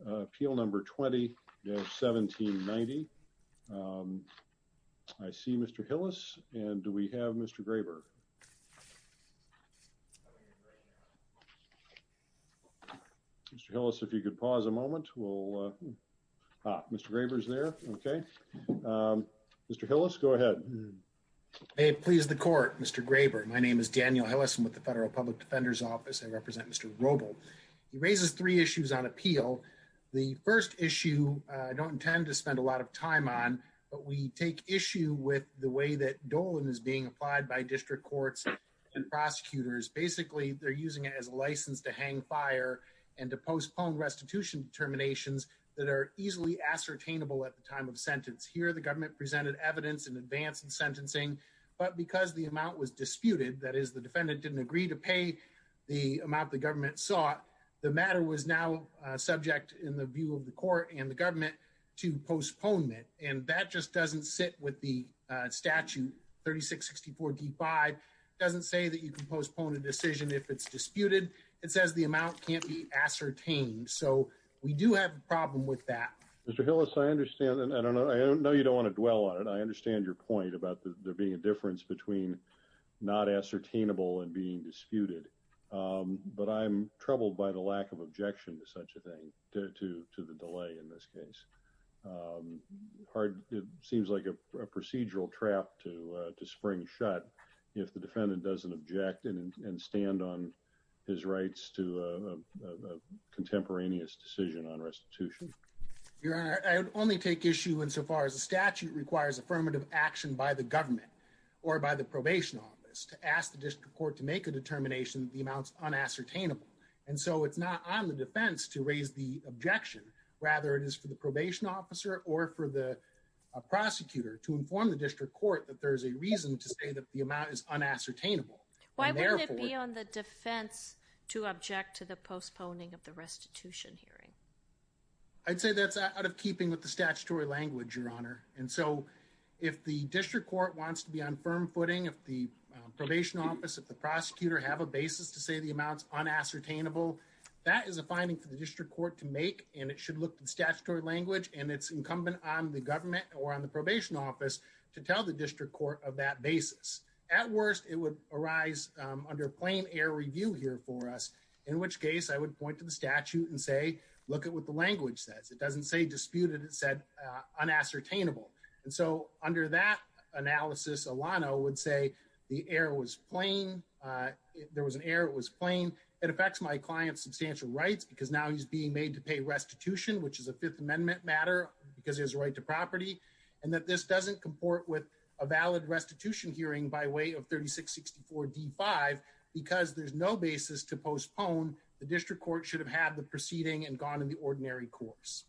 Appeal number 20-1790. I see Mr. Hillis, and do we have Mr. Graber? Mr. Hillis, if you could pause a moment. Ah, Mr. Graber's there. Okay. Mr. Hillis, go ahead. May it please the Court, Mr. Graber. My name is Daniel Hillis. I'm with the Federal Public Defender's Office. I represent Mr. Robl. He raises three issues on appeal. The first issue I don't intend to spend a lot of time on, but we take issue with the way that Dolan is being applied by district courts and prosecutors. Basically, they're using it as a license to hang, fire, and to postpone restitution determinations that are easily ascertainable at the time of sentence. Here, the government presented evidence in advance of sentencing, but because the amount was disputed, that is, the defendant didn't agree to pay the amount the government sought, the matter was now subject, in the view of the Court and the government, to postponement. And that just doesn't sit with the statute 36-64-D-5. It doesn't say that you can postpone a decision if it's disputed. It says the amount can't be ascertained. So we do have a problem with that. Mr. Hillis, I understand, and I know you don't want to dwell on it, I understand your point about there being a difference between not ascertainable and being disputed. But I'm troubled by the lack of objection to such a thing, to the delay in this case. It seems like a procedural trap to spring shut if the defendant doesn't object and stand on his rights to a contemporaneous decision on restitution. Your Honor, I would only take issue insofar as the statute requires affirmative action by the government or by the Probation Office to ask the District Court to make a determination that the amount is unascertainable. And so it's not on the defense to raise the objection. Rather, it is for the Probation Officer or for the prosecutor to inform the District Court that there is a reason to say that the amount is unascertainable. Why wouldn't it be on the defense to object to the postponing of the restitution hearing? I'd say that's out of keeping with the statutory language, Your Honor. And so if the District Court wants to be on firm footing, if the Probation Office, if the prosecutor have a basis to say the amount is unascertainable, that is a finding for the District Court to make and it should look to the statutory language and it's incumbent on the government or on the Probation Office to tell the District Court of that basis. At worst, it would arise under plain air review here for us, in which case I would point to the statute and say, look at what the language says. It doesn't say disputed, it said unascertainable. And so under that analysis, Alano would say the error was plain. There was an error, it was plain. It affects my client's substantial rights because now he's being made to pay restitution, which is a Fifth Amendment matter because there's a right to property and that this doesn't comport with a valid restitution hearing by way of 3664 D5 because there's no basis to postpone. The District Court should have had the proceeding and gone in the ordinary course.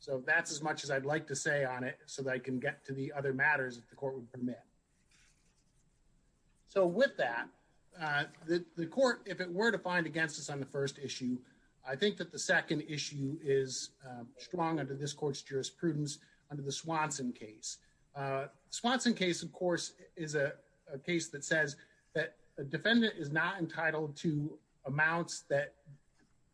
So that's as much as I'd like to say on it so that I can get to the other matters that the court would permit. So with that, the court, if it were to find against us on the first issue, I think that the second issue is strong under this court's jurisprudence under the Swanson case. The Swanson case, of course, is a case that says that a defendant is not entitled to amounts that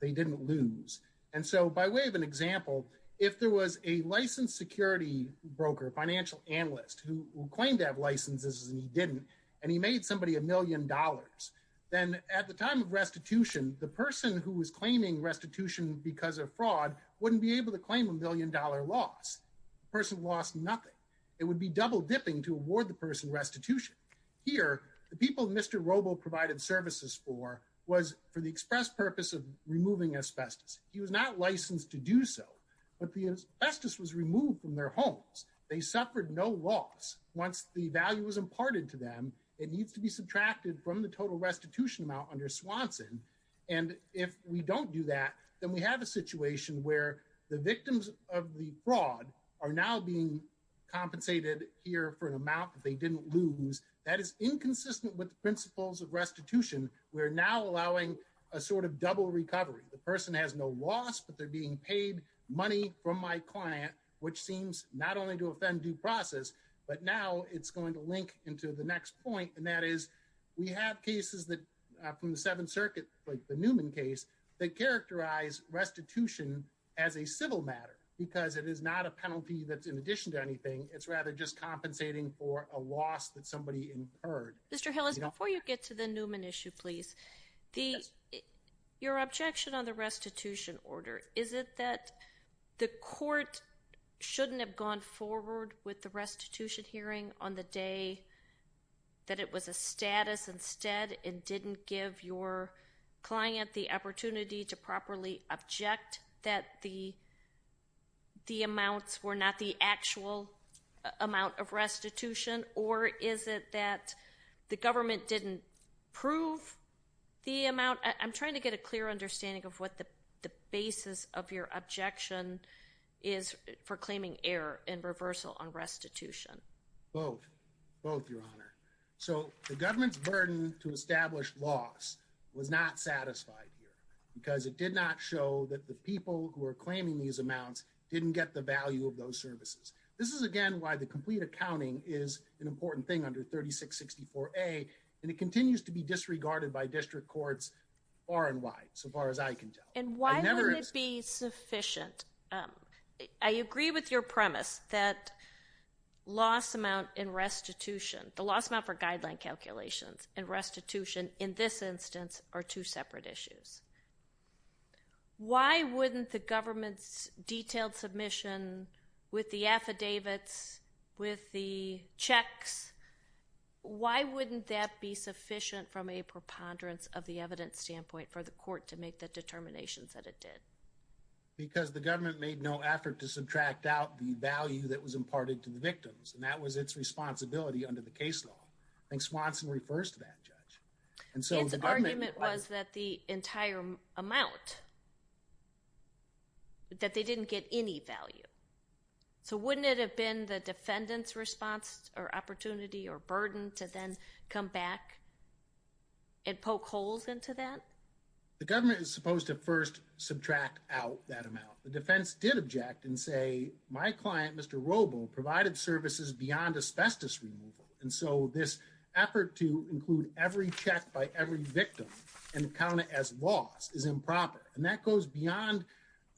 they didn't lose. And so by way of an example, if there was a licensed security broker, financial analyst who claimed to have licenses and he didn't, and he made somebody a million dollars, then at the time of restitution, the person who was claiming restitution because of fraud wouldn't be able to claim a million dollar loss. The person lost nothing. It would be double dipping to award the person restitution. Here, the people Mr. Robo provided services for was for the express purpose of removing asbestos. He was not licensed to do so, but the asbestos was removed from their homes. They suffered no loss. Once the value was imparted to them, it needs to be subtracted from the total restitution amount under Swanson. And if we don't do that, then we have a situation where the victims of the fraud are now being compensated here for an amount that they didn't lose. That is inconsistent with the principles of restitution. We're now allowing a sort of double recovery. The person has no loss, but they're being paid money from my client, which seems not only to offend due process, but now it's going to link into the next point. And that is, we have cases that from the Seventh Circuit, like the Newman case, that characterize restitution as a civil matter, because it is not a penalty that's in addition to anything. It's rather just compensating for a loss that somebody incurred. Mr. Hill is before you get to the Newman issue, please. The your objection on the restitution order, is it that the court shouldn't have gone forward with the restitution hearing on the day? That it was a status instead and didn't give your client the opportunity to properly object that the amounts were not the actual amount of restitution? Or is it that the government didn't prove the amount? I'm trying to get a clear understanding of what the basis of your objection is for claiming error and reversal on restitution. Both, both your honor. So the government's burden to establish loss was not satisfied here because it did not show that the people who are claiming these amounts didn't get the value of those services. This is again why the complete accounting is an important thing under 3664A, and it continues to be disregarded by district courts far and wide, so far as I can tell. And why wouldn't it be sufficient? I agree with your premise that loss amount in restitution, the loss amount for guideline calculations and restitution in this instance are two separate issues. Why wouldn't the government's detailed submission with the affidavits with the checks? Why wouldn't that be sufficient from a preponderance of the evidence standpoint for the court to make the determinations that it did? Because the government made no effort to subtract out the value that was imparted to the victims and that was its responsibility under the case law. I think Swanson refers to that, Judge. Its argument was that the entire amount, that they didn't get any value. So wouldn't it have been the defendant's response or opportunity or burden to then come back and poke holes into that? The government is supposed to first subtract out that amount. The defense did object and say my client, Mr. Robo, provided services beyond asbestos removal. And so this effort to include every check by every victim and count it as loss is improper. And that goes beyond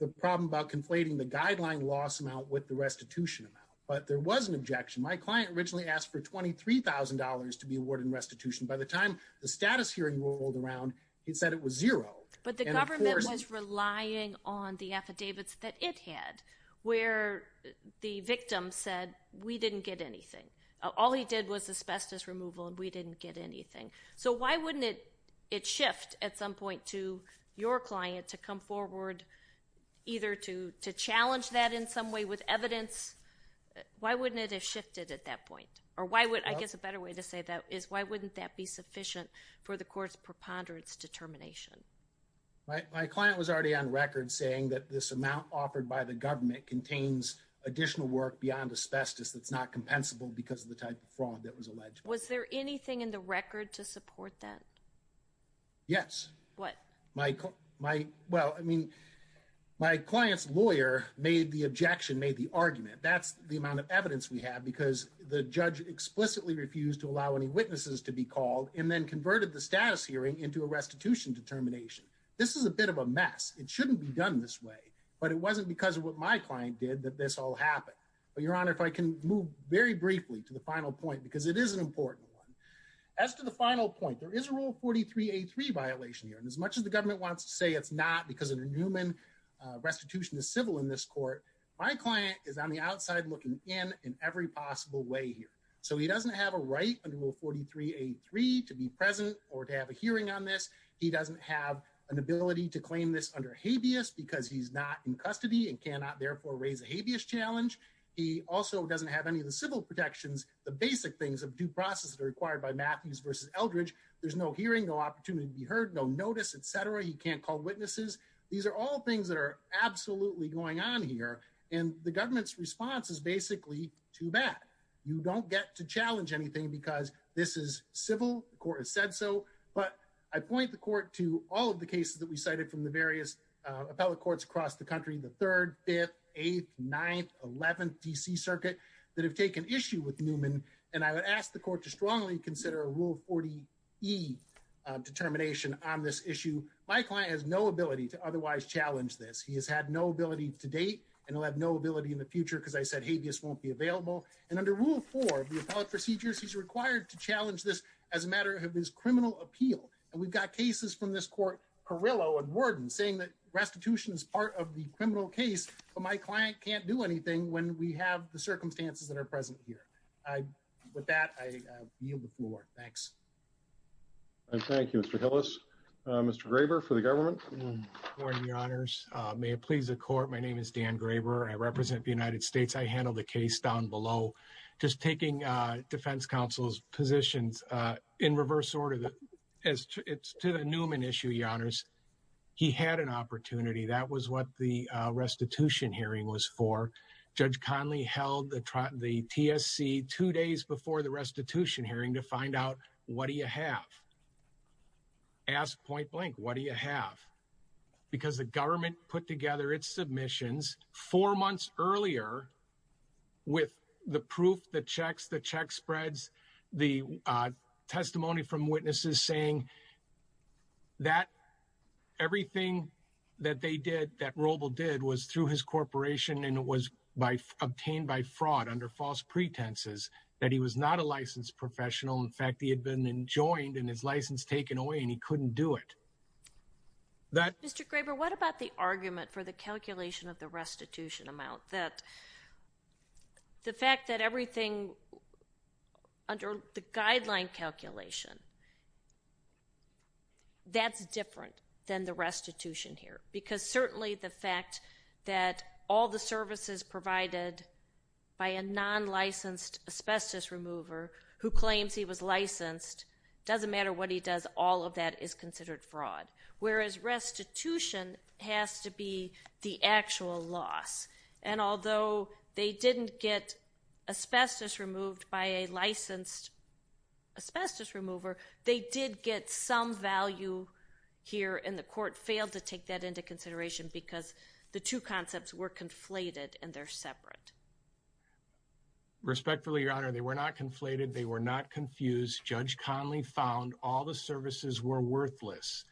the problem about conflating the guideline loss amount with the restitution amount. But there was an objection. My client originally asked for $23,000 to be awarded in restitution. By the time the status hearing rolled around, he said it was zero. But the government was relying on the affidavits that it had where the victim said we didn't get anything. All he did was asbestos removal and we didn't get anything. So why wouldn't it shift at some point to your client to come forward either to challenge that in some way with evidence? Why wouldn't it have shifted at that point? Or I guess a better way to say that is why wouldn't that be sufficient for the court's preponderance determination? My client was already on record saying that this amount offered by the government contains additional work beyond asbestos that's not compensable because of the type of fraud that was alleged. Was there anything in the record to support that? Yes. What? Well, I mean, my client's lawyer made the objection, made the argument. That's the amount of evidence we have because the judge explicitly refused to allow any witnesses to be called and then converted the status hearing into a restitution determination. This is a bit of a mess. It shouldn't be done this way. But it wasn't because of what my client did that this all happened. Your Honor, if I can move very briefly to the final point, because it is an important one. As to the final point, there is a rule 43-83 violation here. And as much as the government wants to say it's not because of the Newman restitution is civil in this court, my client is on the outside looking in in every possible way here. So he doesn't have a right under rule 43-83 to be present or to have a hearing on this. He doesn't have an ability to claim this under habeas because he's not in custody and cannot therefore raise a habeas challenge. He also doesn't have any of the civil protections, the basic things of due process that are required by Matthews v. Eldridge. There's no hearing, no opportunity to be heard, no notice, etc. He can't call witnesses. These are all things that are absolutely going on here. And the government's response is basically too bad. You don't get to challenge anything because this is civil. The court has said so. But I point the court to all of the cases that we cited from the various appellate courts across the country, the 3rd, 5th, 8th, 9th, 11th D.C. circuit that have taken issue with Newman. And I would ask the court to strongly consider a rule 40-E determination on this issue. My client has no ability to otherwise challenge this. He has had no ability to date and will have no ability in the future because I said habeas won't be available. And under rule 4 of the appellate procedures, he's required to challenge this as a matter of his criminal appeal. And we've got cases from this court, Carrillo and Worden, saying that restitution is part of the criminal case. But my client can't do anything when we have the circumstances that are present here. With that, I yield the floor. Thanks. Thank you, Mr. Hillis. Mr. Graber for the government. Good morning, Your Honors. May it please the court. My name is Dan Graber. I represent the United States. I handle the case down below. Just taking defense counsel's positions in reverse order to the Newman issue, Your Honors, he had an opportunity. That was what the restitution hearing was for. Judge Conley held the TSC two days before the restitution hearing to find out what do you have. Ask point blank, what do you have? Because the government put together its submissions four months earlier with the proof, the checks, the check spreads, the testimony from witnesses saying that everything that they did, that Roble did, was through his corporation and it was obtained by fraud under false pretenses, that he was not a licensed professional. In fact, he had been enjoined and his license taken away and he couldn't do it. Mr. Graber, what about the argument for the calculation of the restitution amount? The fact that everything under the guideline calculation, that's different than the restitution here. Because certainly the fact that all the services provided by a non-licensed asbestos remover who claims he was licensed, doesn't matter what he does, all of that is considered fraud. Whereas restitution has to be the actual loss. And although they didn't get asbestos removed by a licensed asbestos remover, they did get some value here and the court failed to take that into consideration because the two concepts were conflated and they're separate. Respectfully, Your Honor, they were not conflated, they were not confused. Judge Conley found all the services were worthless.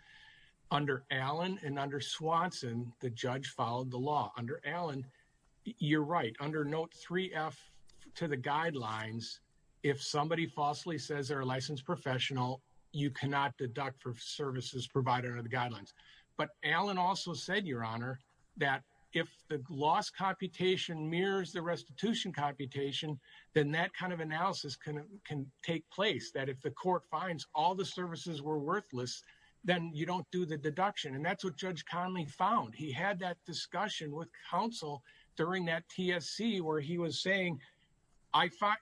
Under Allen and under Swanson, the judge followed the law. Under Allen, you're right. Under note 3F to the guidelines, if somebody falsely says they're a licensed professional, you cannot deduct for services provided under the guidelines. But Allen also said, Your Honor, that if the loss computation mirrors the restitution computation, then that kind of analysis can take place. That if the court finds all the services were worthless, then you don't do the deduction. And that's what Judge Conley found. He had that discussion with counsel during that TSC where he was saying, I find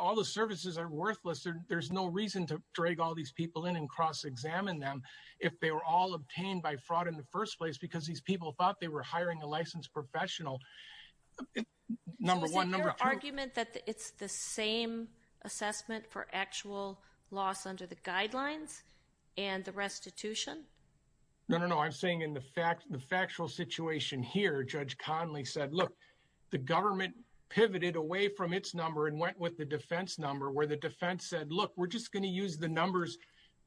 all the services are worthless. There's no reason to drag all these people in and cross-examine them if they were all obtained by fraud in the first place because these people thought they were hiring a licensed professional. Number one, number two. Is it your argument that it's the same assessment for actual loss under the guidelines and the restitution? No, no, no. I'm saying in the factual situation here, Judge Conley said, Look, the government pivoted away from its number and went with the defense number where the defense said, Look, we're just going to use the numbers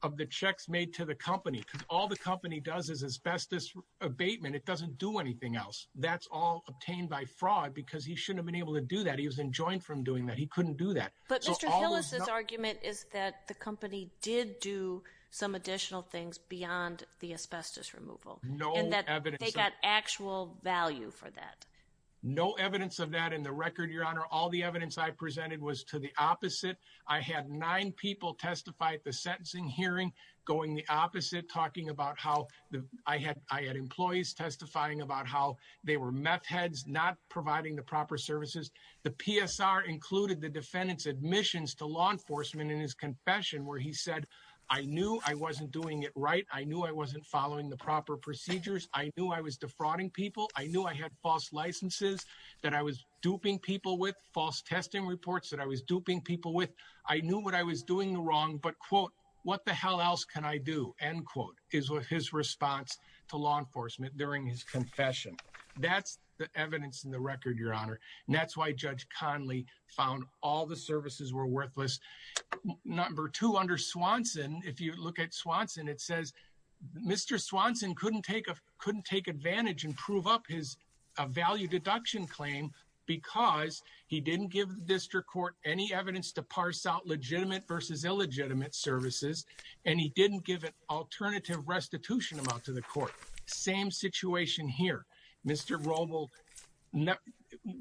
of the checks made to the company because all the company does is asbestos abatement. It doesn't do anything else. That's all obtained by fraud because he shouldn't have been able to do that. He was enjoined from doing that. He couldn't do that. But Mr. Hillis' argument is that the company did do some additional things beyond the asbestos removal and that they got actual value for that. No evidence of that in the record, Your Honor. All the evidence I presented was to the opposite. I had nine people testify at the sentencing hearing going the opposite, talking about how I had employees testifying about how they were meth heads, not providing the proper services. The PSR included the defendant's admissions to law enforcement in his confession where he said, I knew I wasn't doing it right. I knew I wasn't following the proper procedures. I knew I was defrauding people. I knew I had false licenses that I was duping people with, false testing reports that I was duping people with. I knew what I was doing wrong. But, quote, what the hell else can I do, end quote, is what his response to law enforcement during his confession. That's the evidence in the record, Your Honor. And that's why Judge Conley found all the services were worthless. Number two, under Swanson, if you look at Swanson, it says, Mr. Swanson couldn't take advantage and prove up his value deduction claim because he didn't give the district court any evidence to parse out legitimate versus illegitimate services, and he didn't give an alternative restitution amount to the court. Same situation here. Mr. Romel,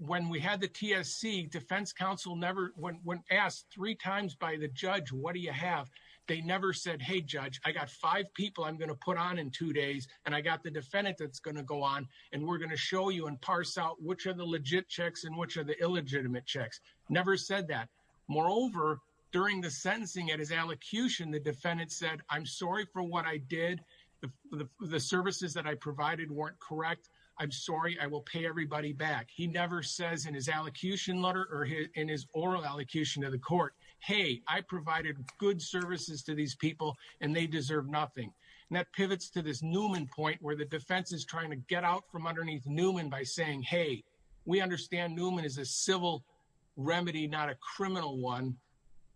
when we had the TSC, defense counsel never, when asked three times by the judge, what do you have, they never said, hey, judge, I got five people I'm going to put on in two days, and I got the defendant that's going to go on, and we're going to show you and parse out which are the legit checks and which are the illegitimate checks. Never said that. Moreover, during the sentencing at his allocution, the defendant said, I'm sorry for what I did. The services that I provided weren't correct. I'm sorry. I will pay everybody back. He never says in his allocution letter or in his oral allocution to the court, hey, I provided good services to these people, and they deserve nothing. And that pivots to this Newman point where the defense is trying to get out from underneath Newman by saying, hey, we understand Newman is a civil remedy, not a criminal one,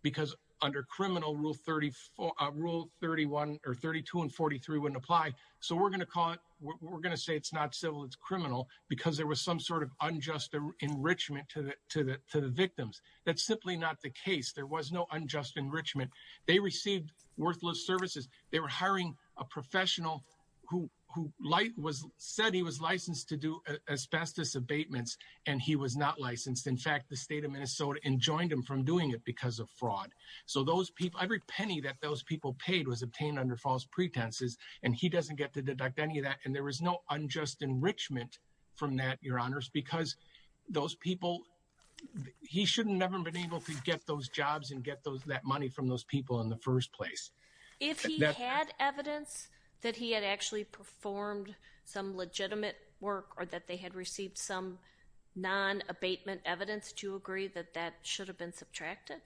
because under criminal rule 34, rule 31 or 32 and 43 wouldn't apply. So we're going to call it. We're going to say it's not civil. It's criminal because there was some sort of unjust enrichment to the, to the, to the victims. That's simply not the case. There was no unjust enrichment. They received worthless services. They were hiring a professional who, who light was said he was licensed to do asbestos abatements. And he was not licensed. In fact, the state of Minnesota enjoined him from doing it because of fraud. So those people, every penny that those people paid was obtained under false pretenses. And he doesn't get to deduct any of that. And there was no unjust enrichment from that your honors, because those people, he shouldn't never been able to get those jobs and get those, that money from those people in the first place. If he had evidence that he had actually performed some legitimate work or that they had received some non abatement evidence to agree that that should have been subtracted.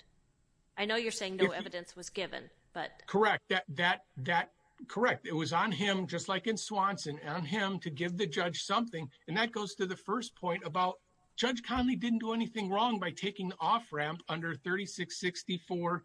I know you're saying no evidence was given, but correct. That, that, that correct. It was on him, just like in Swanson on him to give the judge something. And that goes to the first point about judge Conley didn't do anything wrong by taking the off ramp under 36, 64.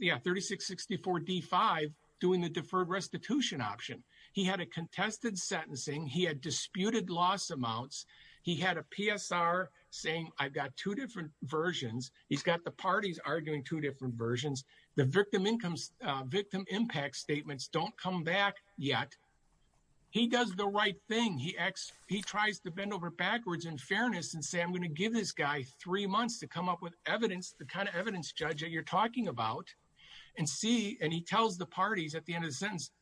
Yeah. 36, 64 D five doing the deferred restitution option. He had a contested sentencing. He had disputed loss amounts. He had a PSR saying, I've got two different versions. He's got the parties arguing two different versions. The victim incomes, victim impact statements. Don't come back yet. He does the right thing. He X, he tries to bend over backwards in fairness and say, I'm going to give this guy three months to come up with evidence, the kind of evidence judge that you're talking about and see. And he tells the parties at the end of the sentence.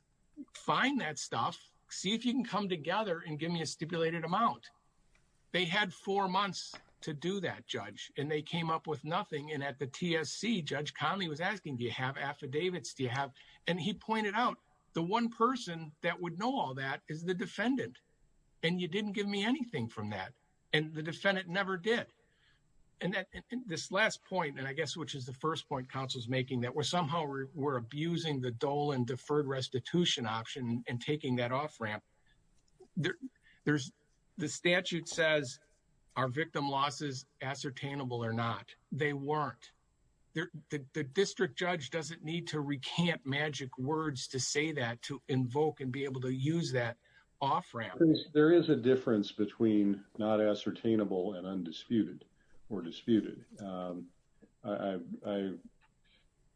Find that stuff. See if you can come together and give me a stipulated amount. They had four months to do that judge. And they came up with nothing. And at the TSC judge Conley was asking, do you have affidavits? Do you have, and he pointed out the one person that would know all that is the defendant. And you didn't give me anything from that. And the defendant never did. And that this last point, and I guess, which is the first point council's making that we're somehow we're, we're abusing the dole and deferred restitution option and taking that off ramp. There there's the statute says. Our victim losses ascertainable or not. They weren't there. The district judge doesn't need to recant magic words to say that, to invoke and be able to use that. Off ramp. There is a difference between not ascertainable and undisputed or disputed. I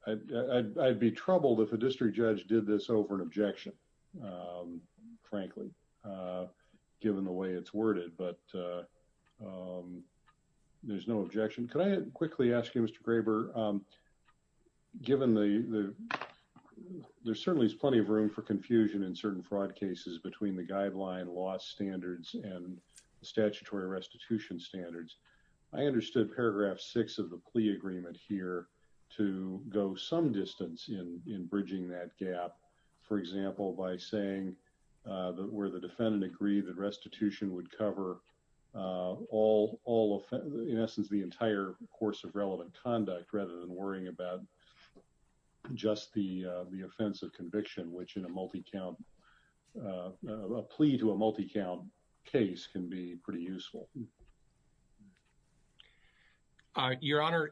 I'd be troubled. If a district judge did this over an objection, frankly, given the way it's worded, but. And I'm not sure that there's a, there's a. There's no objection. Could I quickly ask you, Mr. Graber? Given the. There's certainly plenty of room for confusion in certain fraud cases between the guideline loss standards. And the statutory restitution standards. I understood paragraph six of the plea agreement here. To go some distance in, in bridging that gap. I'm just wondering whether you would be comfortable, for example, by saying. That were the defendant agree. The restitution would cover. All all. In essence, the entire course of relevant conduct, rather than worrying about. Just the, the offensive conviction, which in a multi-count. A plea to a multi count case can be pretty useful. Your honor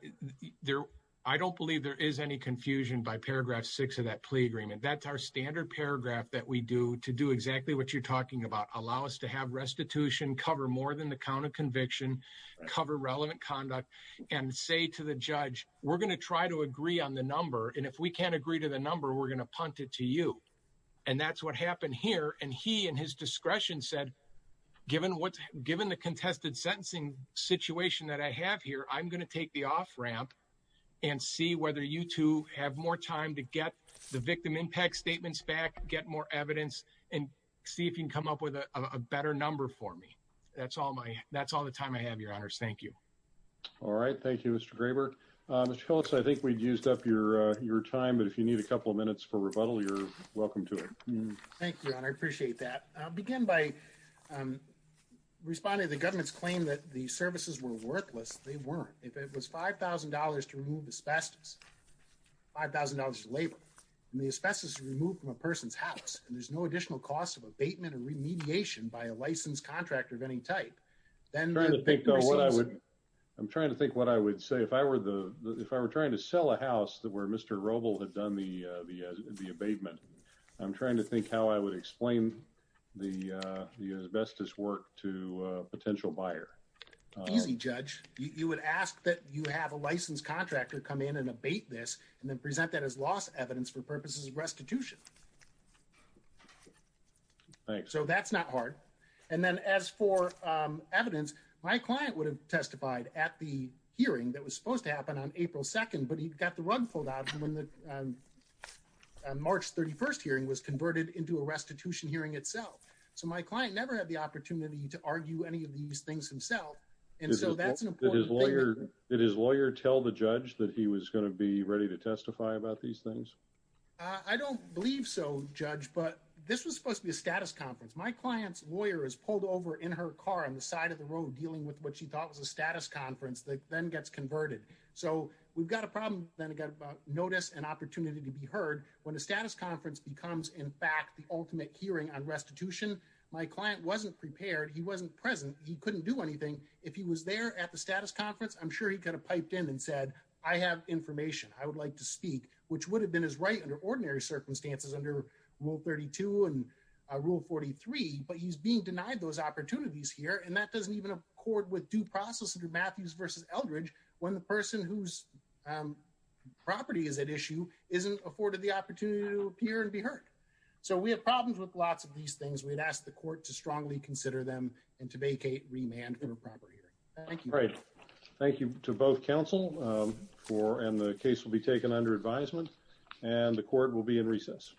there. I don't believe there is any confusion by paragraph six of that plea agreement. That's our standard paragraph that we do to do exactly what you're talking about. Allow us to have restitution, cover more than the count of conviction. Cover relevant conduct and say to the judge, we're going to try to agree on the number. And if we can't agree to the number, we're going to punt it to you. And that's what happened here. And he and his discretion said. Given what's given the contested sentencing situation that I have here, I'm going to take the off ramp. And see whether you two have more time to get the victim impact statements back, get more evidence. And see if you can come up with a better number for me. That's all my, that's all the time I have your honors. Thank you. All right. Thank you, Mr. Graber. I think we'd used up your, your time, but if you need a couple of minutes for rebuttal, you're welcome to it. Thank you. I appreciate that. I'll begin by. Responding to the government's claim that the services were worthless. They weren't, if it was $5,000 to remove asbestos. $5,000 to labor. And the asbestos removed from a person's house. And there's no additional cost of abatement or remediation by a licensed contractor of any type. I'm trying to think what I would. I'm trying to think what I would say if I were the, if I were trying to sell a house that were Mr. Roble had done the, the, the abatement. I'm trying to think how I would explain the, the asbestos work to a potential buyer. Easy judge. You would ask that you have a licensed contractor come in and abate this and then present that as loss evidence for purposes of restitution. Thanks. So that's not hard. And then as for evidence, my client would have testified at the hearing that was supposed to happen on April 2nd, but he'd got the run fold out. When the March 31st hearing was converted into a restitution hearing itself. So my client never had the opportunity to argue any of these things himself. And so that's an important thing. Did his lawyer tell the judge that he was going to be ready to testify about these things? I don't believe so judge, but this was supposed to be a status conference. My client's lawyer is pulled over in her car on the side of the road, dealing with what she thought was a status conference that then gets converted. So we've got a problem. Then it got about notice and opportunity to be heard when a status conference becomes in fact, the ultimate hearing on restitution. My client wasn't prepared. He wasn't present. He couldn't do anything. If he was there at the status conference, I'm sure he could have piped in and said, I have information. I would like to speak, which would have been as right under ordinary circumstances under rule 32 and a rule 43, but he's being denied those opportunities here. And that doesn't even accord with due process. So we have a problem with a lot of these things. We'd ask the court to strongly consider them and to vacate remand for a proper hearing. Thank you. Right. Thank you to both council for, and the case will be taken under advisement and the court will be in recess.